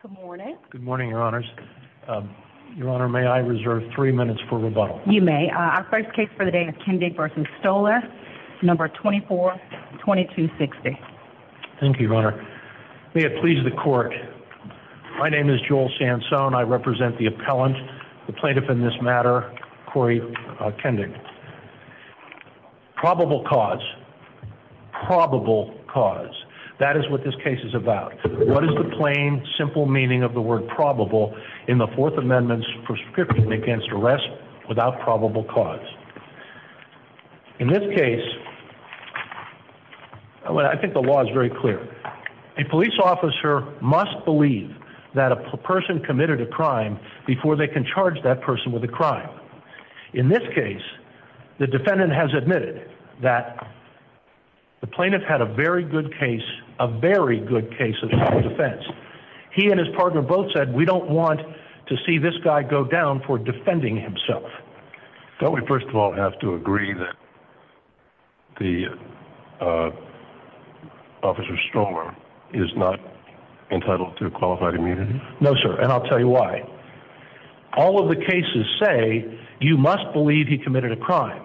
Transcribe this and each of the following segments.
Good morning, Your Honors. Your Honor, may I reserve three minutes for rebuttal? You may. Our first case for the day is Kendig v. Stolar, No. 24-2260. Thank you, Your Honor. May it please the Court, my name is Joel Sansone. I represent the appellant, the plaintiff in this matter, Corey Kendig. Probable cause. Probable cause. That is what this case is about. What is the plain, simple meaning of the word probable in the Fourth Amendment's prescription against arrest without probable cause? In this case, I think the law is very clear. A police officer must believe that a person committed a crime before they can charge that person with a crime. In this case, the defendant has admitted that the plaintiff had a very good case, a very good case of self-defense. He and his partner both said, we don't want to see this guy go down for defending himself. Don't we first of all have to agree that the Officer Stolar is not entitled to qualified immunity? No, sir, and I'll tell you why. All of the cases say you must believe he committed a crime.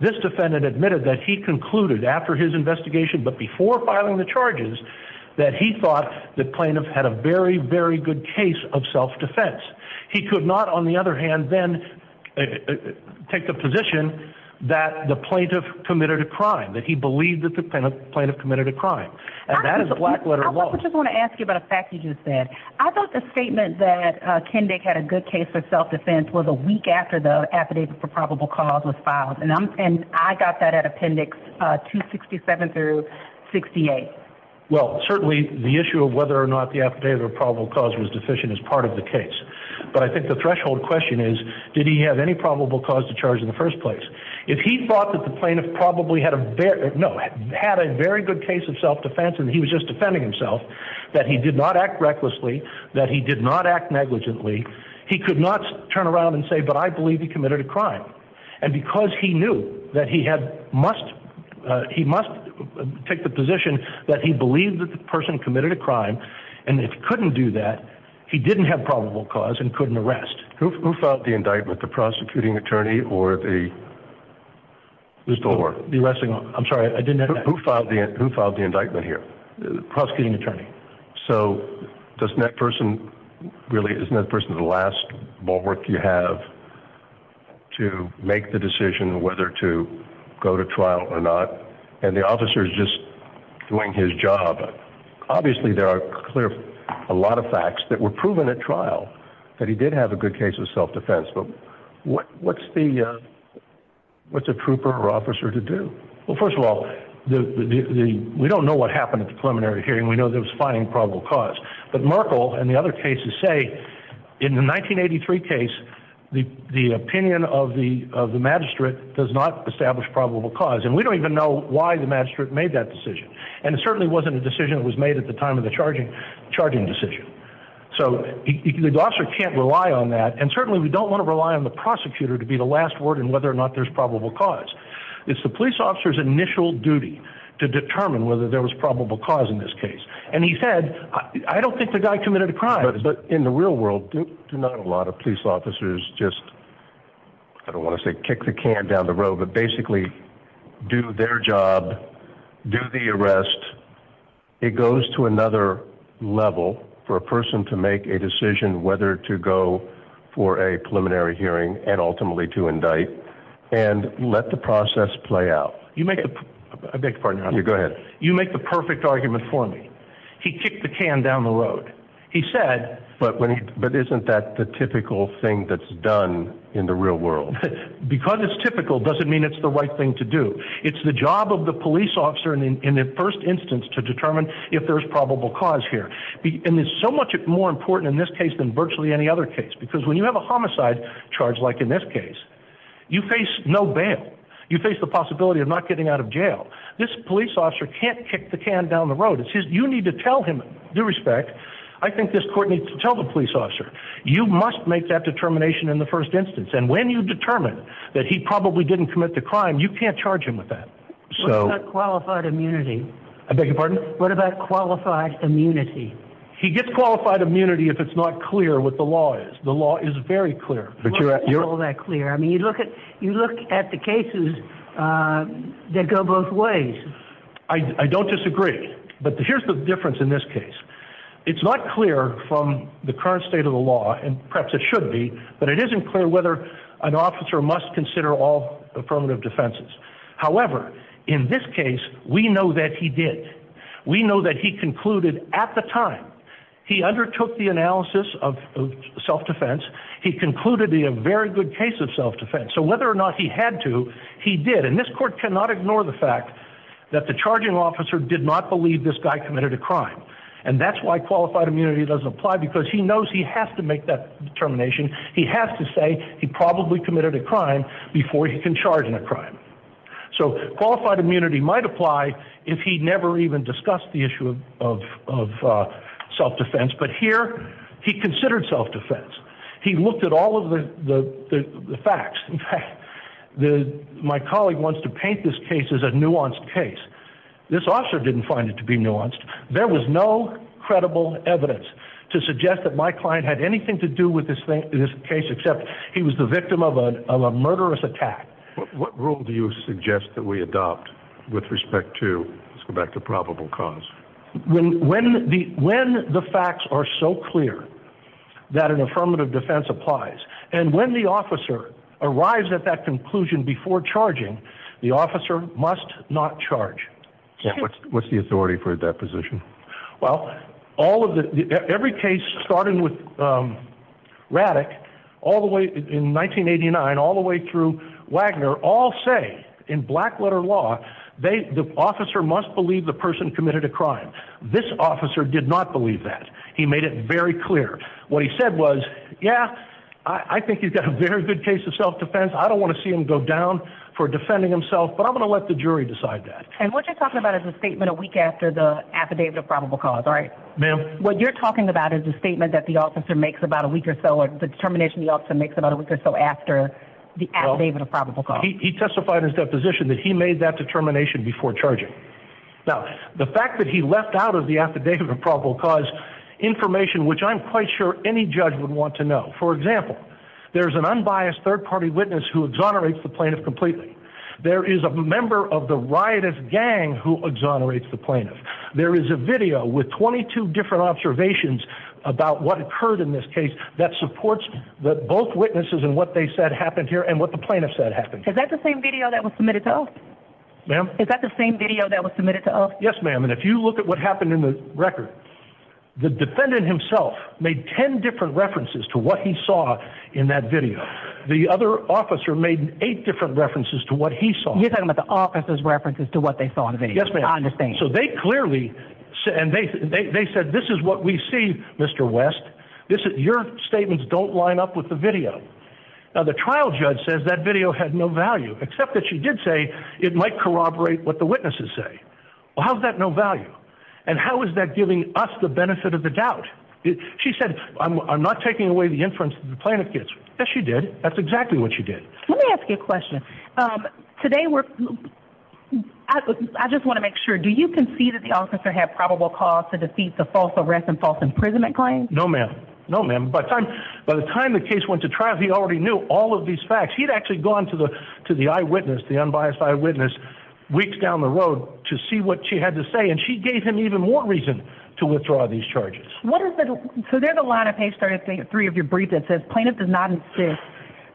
This defendant admitted that he concluded after his investigation, but before filing the charges, that he thought the plaintiff had a very, very good case of self-defense. He could not, on the other hand, then take the position that the plaintiff committed a crime, that he believed that the plaintiff committed a crime. And that is black-letter law. I just want to ask you about a fact you just said. I thought the statement that Kendick had a good case of self-defense was a week after the affidavit for probable cause was filed. And I got that at appendix 267 through 68. Well, certainly the issue of whether or not the affidavit for probable cause was deficient is part of the case. But I think the threshold question is, did he have any probable cause to charge in the first place? If he thought that the plaintiff probably had a very good case of self-defense and he was just defending himself, that he did not act recklessly, that he did not act negligently, he could not turn around and say, but I believe he committed a crime. And because he knew that he must take the position that he believed that the person committed a crime, and if he couldn't do that, he didn't have probable cause and couldn't arrest. Who filed the indictment, the prosecuting attorney or the store? The arresting. I'm sorry, I didn't know that. Who filed the indictment here? The prosecuting attorney. So doesn't that person really, isn't that person the last bulwark you have to make the decision whether to go to trial or not? And the officer is just doing his job. Obviously, there are a lot of facts that were proven at trial that he did have a good case of self-defense. But what's the what's a trooper or officer to do? Well, first of all, we don't know what happened at the preliminary hearing. We know there was fighting probable cause. But Merkel and the other cases say in the 1983 case, the opinion of the of the magistrate does not establish probable cause. And we don't even know why the magistrate made that decision. And it certainly wasn't a decision that was made at the time of the charging charging decision. So the officer can't rely on that. And certainly we don't want to rely on the prosecutor to be the last word on whether or not there's probable cause. It's the police officer's initial duty to determine whether there was probable cause in this case. And he said, I don't think the guy committed a crime. But in the real world, not a lot of police officers just. I don't want to say kick the can down the road, but basically do their job, do the arrest. It goes to another level for a person to make a decision whether to go for a preliminary hearing and ultimately to indict and let the process play out. You make a big part of you. Go ahead. You make the perfect argument for me. He kicked the can down the road. He said, but isn't that the typical thing that's done in the real world? Because it's typical doesn't mean it's the right thing to do. It's the job of the police officer in the first instance to determine if there's probable cause here. And it's so much more important in this case than virtually any other case, because when you have a homicide charge, like in this case, you face no bail. You face the possibility of not getting out of jail. This police officer can't kick the can down the road. You need to tell him due respect. I think this court needs to tell the police officer you must make that determination in the first instance. And when you determine that he probably didn't commit the crime, you can't charge him with that. So qualified immunity. I beg your pardon. What about qualified immunity? He gets qualified immunity if it's not clear what the law is. The law is very clear. You're all that clear. I mean, you look at you look at the cases that go both ways. I don't disagree. But here's the difference in this case. It's not clear from the current state of the law, and perhaps it should be, but it isn't clear whether an officer must consider all affirmative defenses. However, in this case, we know that he did. We know that he concluded at the time he undertook the analysis of self-defense, he concluded in a very good case of self-defense. So whether or not he had to, he did. And this court cannot ignore the fact that the charging officer did not believe this guy committed a crime. And that's why qualified immunity doesn't apply, because he knows he has to make that determination. He has to say he probably committed a crime before he can charge him a crime. So qualified immunity might apply if he never even discussed the issue of self-defense. But here he considered self-defense. He looked at all of the facts. My colleague wants to paint this case as a nuanced case. This officer didn't find it to be nuanced. There was no credible evidence to suggest that my client had anything to do with this case, except he was the victim of a murderous attack. What rule do you suggest that we adopt with respect to, let's go back to probable cause? When the facts are so clear that an affirmative defense applies, and when the officer arrives at that conclusion before charging, the officer must not charge. What's the authority for that position? Well, every case, starting with Raddick, all the way in 1989, all the way through Wagner, all say in black-letter law, the officer must believe the person committed a crime. This officer did not believe that. He made it very clear. What he said was, yeah, I think you've got a very good case of self-defense. I don't want to see him go down for defending himself, but I'm going to let the jury decide that. And what you're talking about is a statement a week after the affidavit of probable cause, right? Ma'am? What you're talking about is a statement that the officer makes about a week or so, or the determination the officer makes about a week or so after the affidavit of probable cause. He testified in his deposition that he made that determination before charging. Now, the fact that he left out of the affidavit of probable cause information, which I'm quite sure any judge would want to know. For example, there's an unbiased third-party witness who exonerates the plaintiff completely. There is a member of the riotous gang who exonerates the plaintiff. There is a video with 22 different observations about what occurred in this case that supports both witnesses and what they said happened here and what the plaintiff said happened. Is that the same video that was submitted to us? Ma'am? Is that the same video that was submitted to us? Yes, ma'am, and if you look at what happened in the record, the defendant himself made 10 different references to what he saw in that video. The other officer made 8 different references to what he saw. You're talking about the officer's references to what they saw in the video? Yes, ma'am. I understand. So they clearly said, and they said, this is what we see, Mr. West. Your statements don't line up with the video. Now, the trial judge says that video had no value, except that she did say it might corroborate what the witnesses say. Well, how is that no value? And how is that giving us the benefit of the doubt? She said, I'm not taking away the inference that the plaintiff gets. Yes, she did. That's exactly what she did. Let me ask you a question. Today, I just want to make sure, do you concede that the officer had probable cause to defeat the false arrest and false imprisonment claim? No, ma'am. No, ma'am. By the time the case went to trial, he already knew all of these facts. He'd actually gone to the eyewitness, the unbiased eyewitness, weeks down the road to see what she had to say, and she gave him even more reason to withdraw these charges. So there's a line of page 33 of your brief that says, Plaintiff does not insist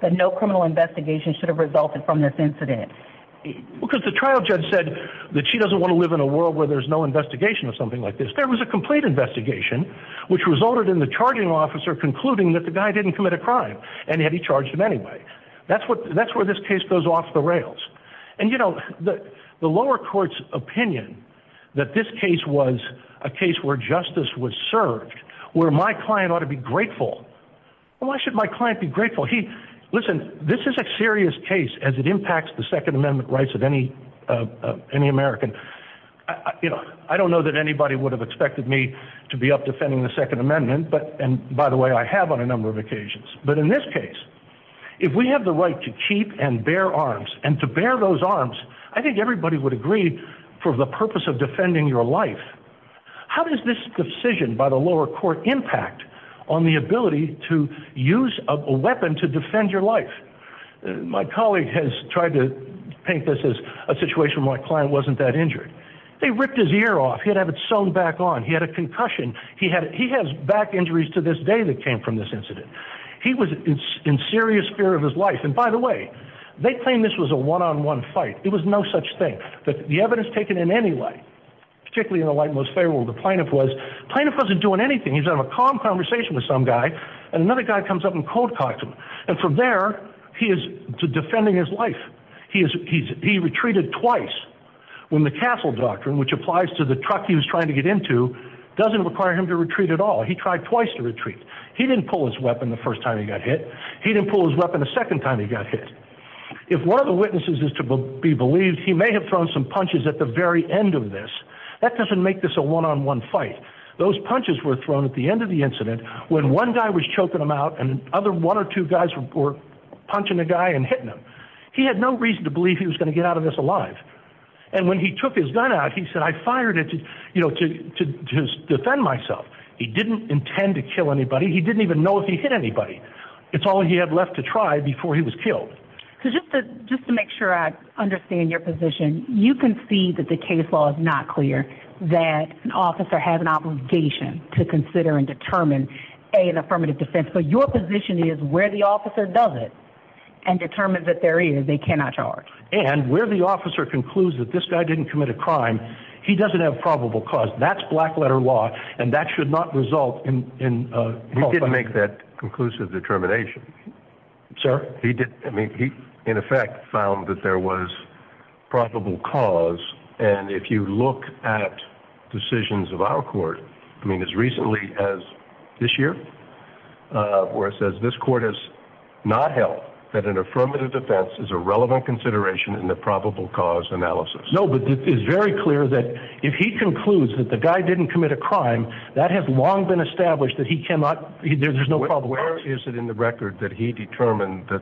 that no criminal investigation should have resulted from this incident. Because the trial judge said that she doesn't want to live in a world where there's no investigation of something like this. There was a complete investigation, which resulted in the charging officer concluding that the guy didn't commit a crime, and yet he charged him anyway. That's where this case goes off the rails. And, you know, the lower court's opinion that this case was a case where justice was served, where my client ought to be grateful, well, why should my client be grateful? Listen, this is a serious case as it impacts the Second Amendment rights of any American. I don't know that anybody would have expected me to be up defending the Second Amendment, and, by the way, I have on a number of occasions. But in this case, if we have the right to keep and bear arms, and to bear those arms, I think everybody would agree for the purpose of defending your life. How does this decision by the lower court impact on the ability to use a weapon to defend your life? My colleague has tried to paint this as a situation where my client wasn't that injured. They ripped his ear off. He'd have it sewn back on. He had a concussion. He has back injuries to this day that came from this incident. He was in serious fear of his life. And, by the way, they claim this was a one-on-one fight. It was no such thing. But the evidence taken in any light, particularly in the light most favorable to Plaintiff, was Plaintiff wasn't doing anything. He was having a calm conversation with some guy, and another guy comes up and cold-cocked him. And from there, he is defending his life. He retreated twice when the Castle Doctrine, which applies to the truck he was trying to get into, doesn't require him to retreat at all. He tried twice to retreat. He didn't pull his weapon the first time he got hit. He didn't pull his weapon the second time he got hit. If one of the witnesses is to be believed, he may have thrown some punches at the very end of this. That doesn't make this a one-on-one fight. Those punches were thrown at the end of the incident when one guy was choking him out and one or two guys were punching the guy and hitting him. He had no reason to believe he was going to get out of this alive. And when he took his gun out, he said, I fired it to defend myself. He didn't intend to kill anybody. He didn't even know if he hit anybody. It's all he had left to try before he was killed. Just to make sure I understand your position, you can see that the case law is not clear, that an officer has an obligation to consider and determine, A, an affirmative defense. But your position is where the officer does it and determines that there is, they cannot charge. And where the officer concludes that this guy didn't commit a crime, he doesn't have probable cause. That's black-letter law, and that should not result in a false accusation. He didn't make that conclusive determination. Sir? He did. I mean, he, in effect, found that there was probable cause. And if you look at decisions of our court, I mean, as recently as this year, where it says this court has not held that an affirmative defense is a relevant consideration in the probable cause analysis. No, but it is very clear that if he concludes that the guy didn't commit a crime, that has long been established that he cannot, there's no probable cause. Where is it in the record that he determined that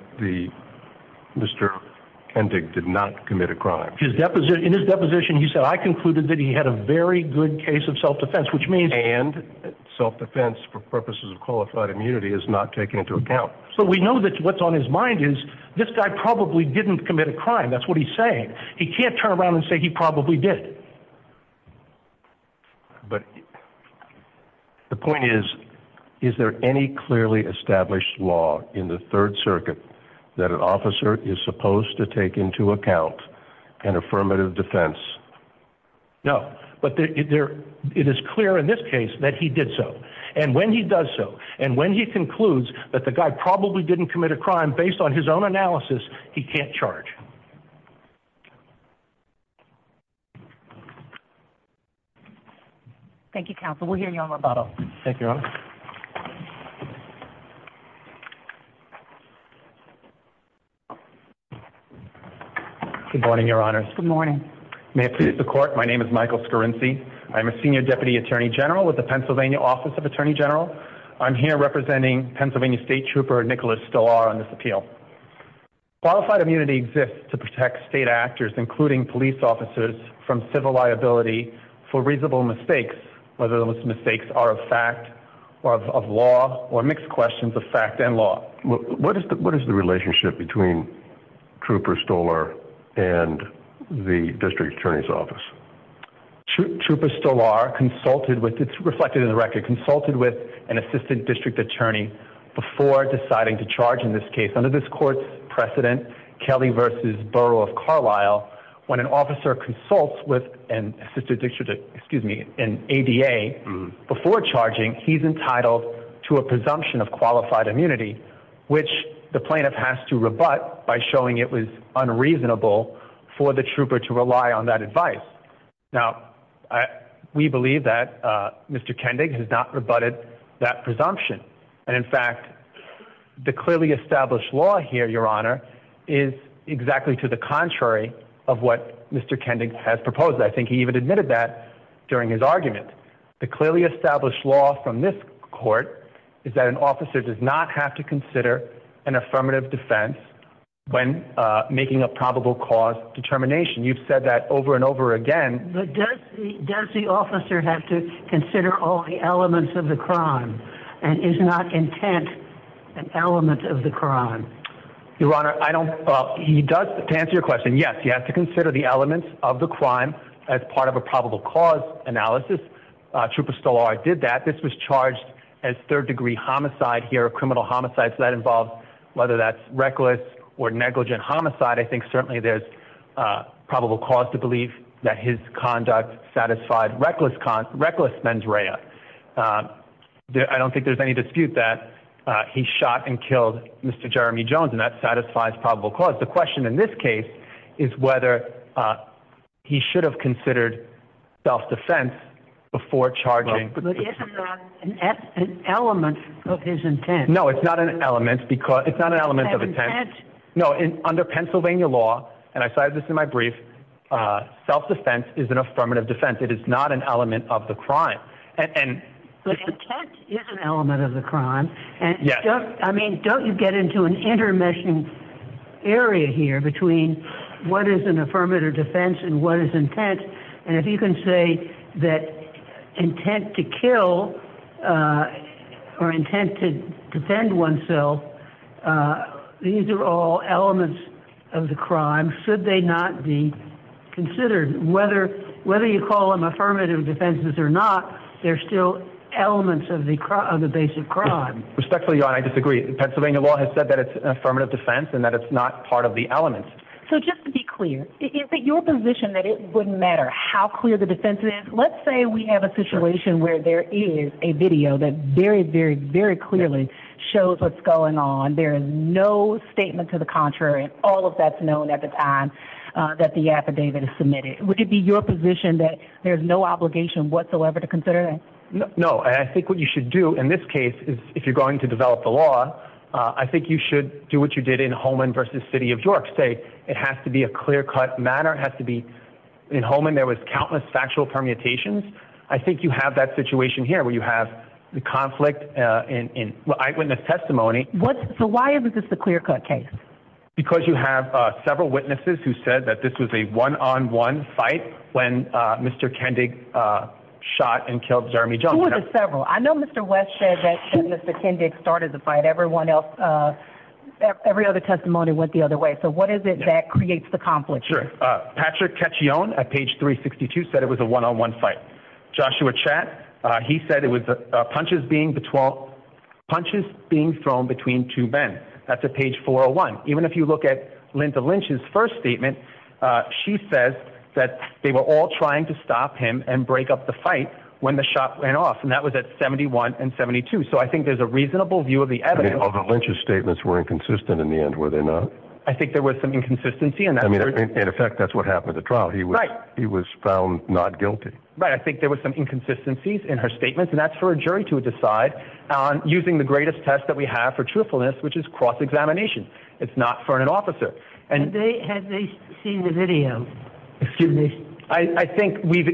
Mr. Kendig did not commit a crime? In his deposition, he said, I concluded that he had a very good case of self-defense, which means And self-defense for purposes of qualified immunity is not taken into account. So we know that what's on his mind is, this guy probably didn't commit a crime. That's what he's saying. He can't turn around and say he probably did. But the point is, is there any clearly established law in the Third Circuit that an officer is supposed to take into account an affirmative defense? No. But it is clear in this case that he did so. And when he does so, and when he concludes that the guy probably didn't commit a crime, based on his own analysis, he can't charge. Thank you, counsel. We'll hear you on rebuttal. Thank you, Your Honor. Good morning, Your Honor. Good morning. May I please have the court? My name is Michael Scorinci. I'm a senior deputy attorney general with the Pennsylvania Office of Attorney General. I'm here representing Pennsylvania State Trooper Nicholas Stolar on this appeal. Qualified immunity exists to protect state actors, including police officers, from civil liability for reasonable mistakes, whether those mistakes are of fact or of law or mixed questions of fact and law. What is the relationship between Trooper Stolar and the District Attorney's Office? Trooper Stolar consulted with – it's reflected in the record – Trooper Stolar consulted with an assistant district attorney before deciding to charge in this case. Under this court's precedent, Kelly v. Borough of Carlisle, when an officer consults with an ADA before charging, he's entitled to a presumption of qualified immunity, which the plaintiff has to rebut by showing it was unreasonable for the trooper to rely on that advice. Now, we believe that Mr. Kendig has not rebutted that presumption. And in fact, the clearly established law here, Your Honor, is exactly to the contrary of what Mr. Kendig has proposed. I think he even admitted that during his argument. The clearly established law from this court is that an officer does not have to consider an affirmative defense when making a probable cause determination. You've said that over and over again. But does the officer have to consider all the elements of the crime and is not intent an element of the crime? Your Honor, I don't – he does – to answer your question, yes. He has to consider the elements of the crime as part of a probable cause analysis. Trooper Stolar did that. This was charged as third-degree homicide here, a criminal homicide. So that involves, whether that's reckless or negligent homicide, I think certainly there's probable cause to believe that his conduct satisfied reckless mens rea. I don't think there's any dispute that he shot and killed Mr. Jeremy Jones, and that satisfies probable cause. The question in this case is whether he should have considered self-defense before charging. But it's not an element of his intent. No, it's not an element of intent. No, under Pennsylvania law, and I cited this in my brief, self-defense is an affirmative defense. It is not an element of the crime. But intent is an element of the crime. Yes. I mean, don't you get into an intermeshing area here between what is an affirmative defense and what is intent? And if you can say that intent to kill or intent to defend oneself, these are all elements of the crime, should they not be considered. Whether you call them affirmative defenses or not, they're still elements of the base of crime. Respectfully, Your Honor, I disagree. Pennsylvania law has said that it's an affirmative defense and that it's not part of the elements. So just to be clear, is it your position that it wouldn't matter how clear the defense is? Let's say we have a situation where there is a video that very, very, very clearly shows what's going on. There is no statement to the contrary. All of that's known at the time that the affidavit is submitted. Would it be your position that there's no obligation whatsoever to consider that? No. I think what you should do in this case is if you're going to develop the law, I think you should do what you did in Holman v. City of York State. It has to be a clear-cut matter. In Holman, there was countless factual permutations. I think you have that situation here where you have the conflict in eyewitness testimony. So why is this a clear-cut case? Because you have several witnesses who said that this was a one-on-one fight when Mr. Kendig shot and killed Jeremy Jones. Who was it several? I know Mr. West said that Mr. Kendig started the fight. Everyone else, every other testimony went the other way. So what is it that creates the conflict here? Sure. Patrick Cacchione at page 362 said it was a one-on-one fight. Joshua Chatt, he said it was punches being thrown between two men. That's at page 401. Even if you look at Linda Lynch's first statement, she says that they were all trying to stop him and break up the fight when the shot went off, and that was at 71 and 72. So I think there's a reasonable view of the evidence. The Lynch's statements were inconsistent in the end, were they not? I think there was some inconsistency. In effect, that's what happened at the trial. He was found not guilty. I think there was some inconsistencies in her statements, and that's for a jury to decide on using the greatest test that we have for truthfulness, which is cross-examination. It's not for an officer. Had they seen the video? I think we've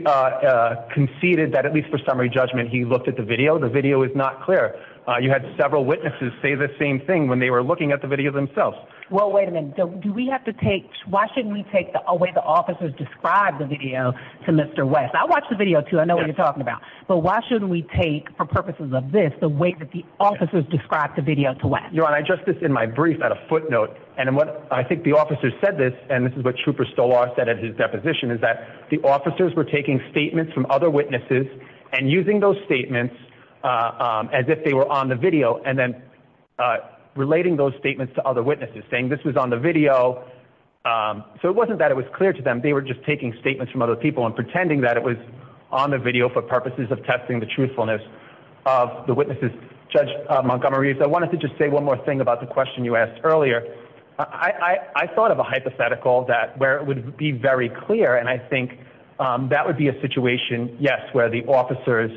conceded that, at least for summary judgment, he looked at the video. The video is not clear. You had several witnesses say the same thing when they were looking at the video themselves. Well, wait a minute. Why shouldn't we take the way the officers described the video to Mr. West? I watched the video, too. I know what you're talking about. But why shouldn't we take, for purposes of this, the way that the officers described the video to West? Your Honor, I addressed this in my brief at a footnote, and I think the officer said this, and this is what Trooper Stolar said at his deposition, is that the officers were taking statements from other witnesses and using those statements as if they were on the video, and then relating those statements to other witnesses, saying this was on the video. So it wasn't that it was clear to them. They were just taking statements from other people and pretending that it was on the video for purposes of testing the truthfulness of the witnesses. Judge Montgomery, if I wanted to just say one more thing about the question you asked earlier, I thought of a hypothetical where it would be very clear, and I think that would be a situation, yes, where the officers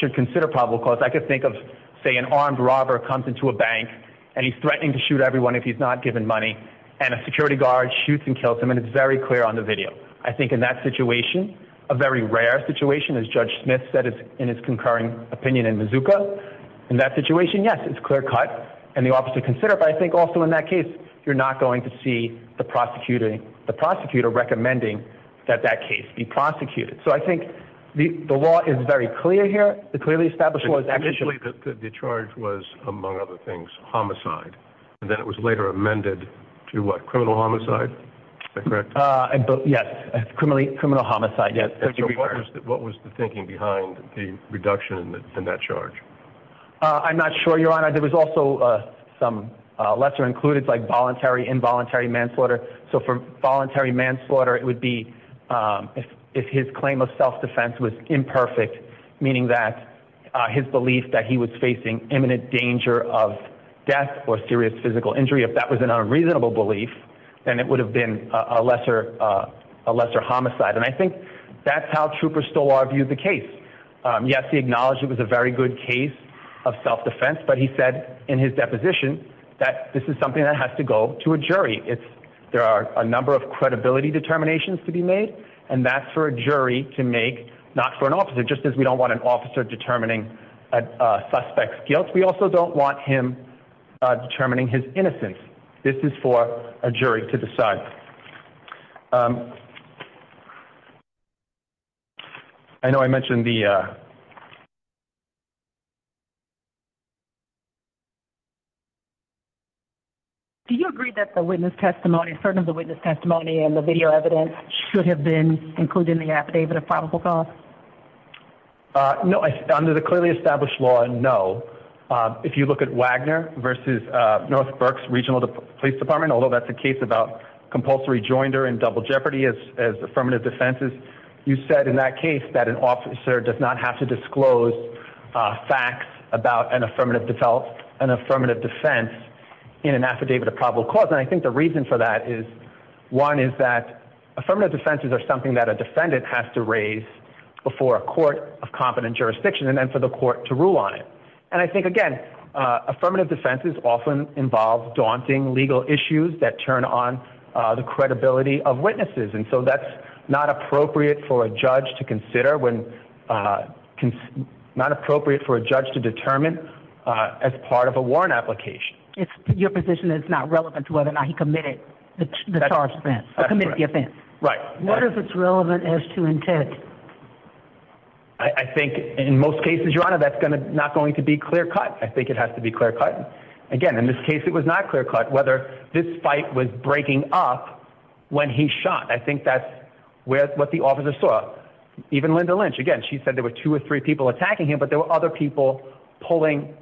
should consider probable cause. I could think of, say, an armed robber comes into a bank, and he's threatening to shoot everyone if he's not given money, and a security guard shoots and kills him, and it's very clear on the video. I think in that situation, a very rare situation, as Judge Smith said in his concurring opinion in Mazuka, in that situation, yes, it's clear-cut, and the officer considered it. But I think also in that case, you're not going to see the prosecutor recommending that that case be prosecuted. So I think the law is very clear here. The clearly established law is actually- Initially, the charge was, among other things, homicide, and then it was later amended to what, criminal homicide? Yes, criminal homicide, yes. So what was the thinking behind the reduction in that charge? I'm not sure, Your Honor. There was also some lesser-included, like voluntary, involuntary manslaughter. So for voluntary manslaughter, it would be if his claim of self-defense was imperfect, meaning that his belief that he was facing imminent danger of death or serious physical injury, if that was an unreasonable belief, then it would have been a lesser homicide. And I think that's how Trooper Stolar viewed the case. Yes, he acknowledged it was a very good case of self-defense, but he said in his deposition that this is something that has to go to a jury. There are a number of credibility determinations to be made, and that's for a jury to make, not for an officer, just as we don't want an officer determining a suspect's guilt. We also don't want him determining his innocence. This is for a jury to decide. I know I mentioned the... Do you agree that the witness testimony, certain of the witness testimony and the video evidence, should have been included in the affidavit of probable cause? No, under the clearly established law, no. If you look at Wagner v. Northbrook's Regional Police Department, although that's a case about compulsory joinder and double jeopardy as affirmative defenses, you said in that case that an officer does not have to disclose facts about an affirmative defense in an affidavit of probable cause. And I think the reason for that is, one, is that affirmative defenses are something that a defendant has to raise before a court of competent jurisdiction and then for the court to rule on it. And I think, again, affirmative defenses often involve daunting legal issues that turn on the credibility of witnesses, and so that's not appropriate for a judge to consider when... Not appropriate for a judge to determine as part of a warrant application. It's your position that it's not relevant to whether or not he committed the charge of offense, or committed the offense. Right. What if it's relevant as to intent? I think in most cases, Your Honor, that's not going to be clear-cut. I think it has to be clear-cut. Again, in this case it was not clear-cut whether this fight was breaking up when he shot. I think that's what the officer saw. Even Linda Lynch, again, she said there were two or three people attacking him, but there were other people pulling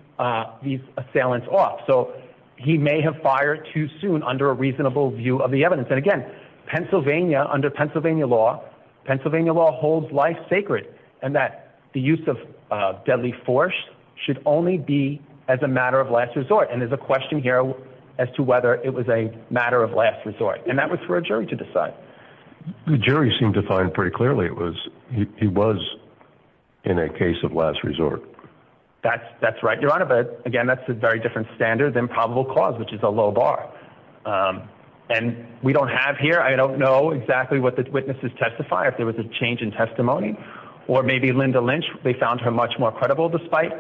these assailants off. So he may have fired too soon under a reasonable view of the evidence. And again, Pennsylvania, under Pennsylvania law, Pennsylvania law holds life sacred in that the use of deadly force should only be as a matter of last resort. And there's a question here as to whether it was a matter of last resort. And that was for a jury to decide. The jury seemed to find pretty clearly it was, he was in a case of last resort. That's right, Your Honor. But, again, that's a very different standard than probable cause, which is a low bar. And we don't have here, I don't know exactly what the witnesses testify, if there was a change in testimony. Or maybe Linda Lynch, they found her much more credible despite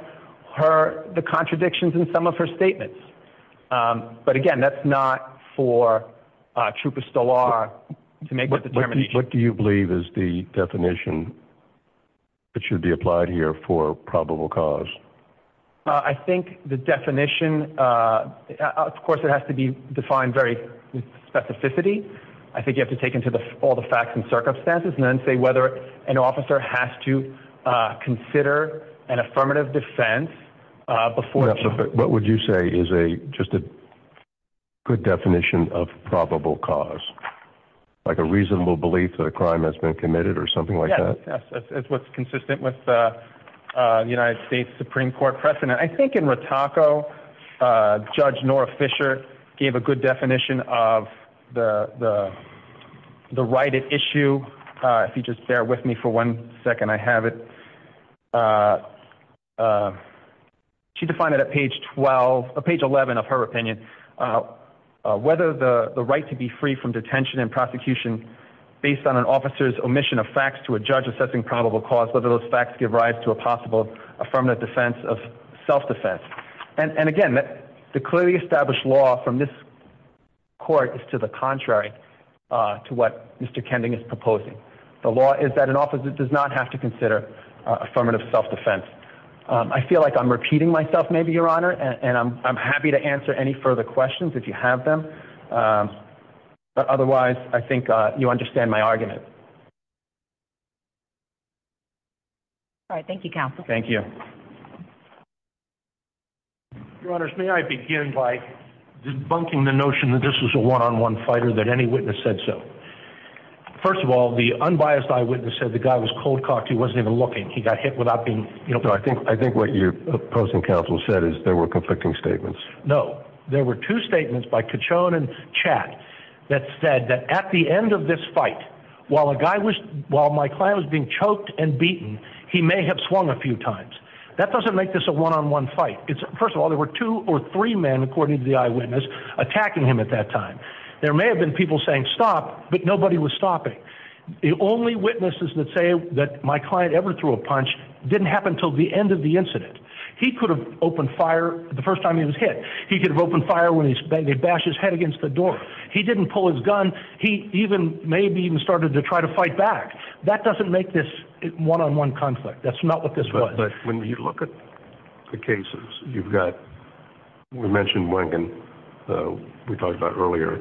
her, the contradictions in some of her statements. But, again, that's not for Trup Estolar to make a determination. What do you believe is the definition that should be applied here for probable cause? I think the definition, of course, it has to be defined very specificity. I think you have to take into all the facts and circumstances and then say whether an officer has to consider an affirmative defense before. What would you say is just a good definition of probable cause? Like a reasonable belief that a crime has been committed or something like that? That's what's consistent with the United States Supreme Court precedent. I think in Rataco, Judge Nora Fisher gave a good definition of the right at issue. If you just bear with me for one second, I have it. She defined it at page 11 of her opinion. Whether the right to be free from detention and prosecution based on an officer's omission of facts to a judge assessing probable cause, whether those facts give rise to a possible affirmative defense of self-defense. And, again, the clearly established law from this court is to the contrary to what Mr. Kending is proposing. The law is that an officer does not have to consider affirmative self-defense. I feel like I'm repeating myself maybe, Your Honor, and I'm happy to answer any further questions if you have them. Otherwise, I think you understand my argument. All right. Thank you, Counsel. Thank you. Your Honors, may I begin by debunking the notion that this was a one-on-one fighter, that any witness said so. First of all, the unbiased eyewitness said the guy was cold-cocked. He wasn't even looking. He got hit without being, you know. No, I think what your opposing counsel said is there were conflicting statements. No. There were two statements by Cachon and Chad that said that at the end of this fight, while my client was being choked and beaten, he may have swung a few times. That doesn't make this a one-on-one fight. First of all, there were two or three men, according to the eyewitness, attacking him at that time. There may have been people saying stop, but nobody was stopping. The only witnesses that say that my client ever threw a punch didn't happen until the end of the incident. He could have opened fire the first time he was hit. He could have opened fire when they bashed his head against the door. He didn't pull his gun. He maybe even started to try to fight back. That doesn't make this a one-on-one conflict. That's not what this was. But when you look at the cases, you've got, we mentioned one we talked about earlier,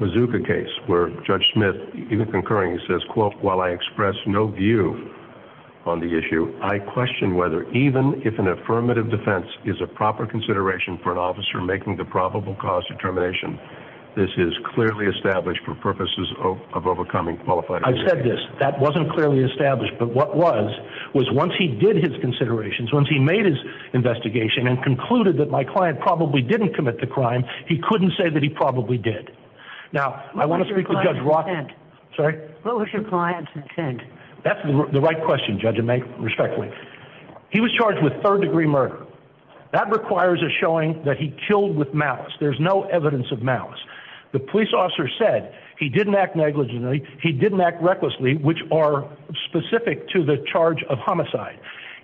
the Mazuka case, where Judge Smith, even concurring, says, quote, while I express no view on the issue, I question whether even if an affirmative defense is a proper consideration for an officer making the probable cause determination, this is clearly established for purposes of overcoming qualified objection. I said this. That wasn't clearly established. But what was was once he did his considerations, once he made his investigation and concluded that my client probably didn't commit the crime, he couldn't say that he probably did. What was your client's intent? That's the right question, Judge, respectfully. He was charged with third-degree murder. That requires a showing that he killed with malice. There's no evidence of malice. The police officer said he didn't act negligently, he didn't act recklessly, which are specific to the charge of homicide.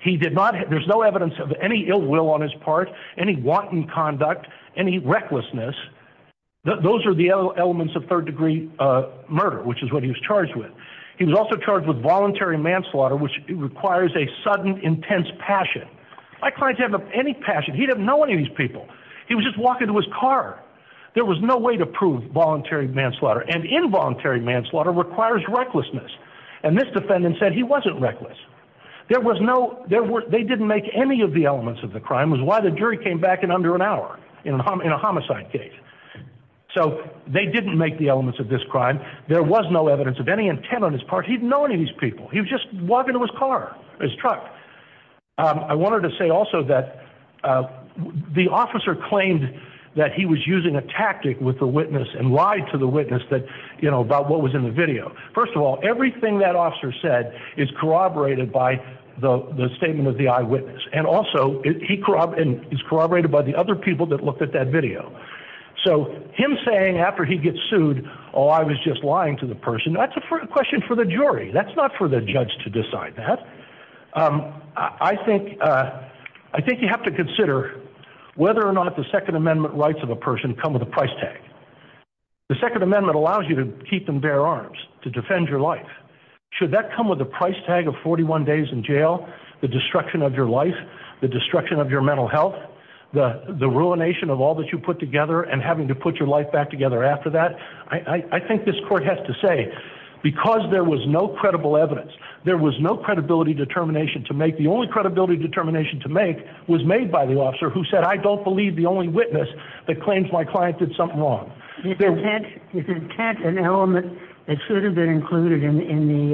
There's no evidence of any ill will on his part, any wanton conduct, any recklessness. Those are the elements of third-degree murder, which is what he was charged with. He was also charged with voluntary manslaughter, which requires a sudden, intense passion. My client didn't have any passion. He didn't know any of these people. He was just walking to his car. There was no way to prove voluntary manslaughter. And involuntary manslaughter requires recklessness. And this defendant said he wasn't reckless. They didn't make any of the elements of the crime. That was why the jury came back in under an hour, in a homicide case. So they didn't make the elements of this crime. There was no evidence of any intent on his part. He didn't know any of these people. He was just walking to his car, his truck. I wanted to say also that the officer claimed that he was using a tactic with the witness and lied to the witness about what was in the video. First of all, everything that officer said is corroborated by the statement of the eyewitness. And also, he corroborated by the other people that looked at that video. So him saying after he gets sued, oh, I was just lying to the person, that's a question for the jury. That's not for the judge to decide that. I think you have to consider whether or not the Second Amendment rights of a person come with a price tag. The Second Amendment allows you to keep and bear arms, to defend your life. Should that come with a price tag of 41 days in jail, the destruction of your life, the destruction of your mental health, the ruination of all that you put together and having to put your life back together after that? I think this court has to say because there was no credible evidence, there was no credibility determination to make, the only credibility determination to make was made by the officer who said, I don't believe the only witness that claims my client did something wrong. You can attach an element that should have been included in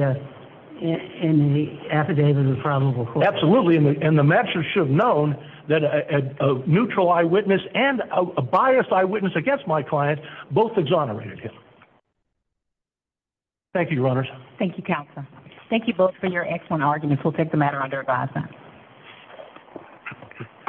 the affidavit of probable cause. Absolutely, and the matchers should have known that a neutral eyewitness and a biased eyewitness against my client both exonerated him. Thank you, Your Honors. Thank you, Counselor. Thank you both for your excellent argument. We'll take the matter under revising.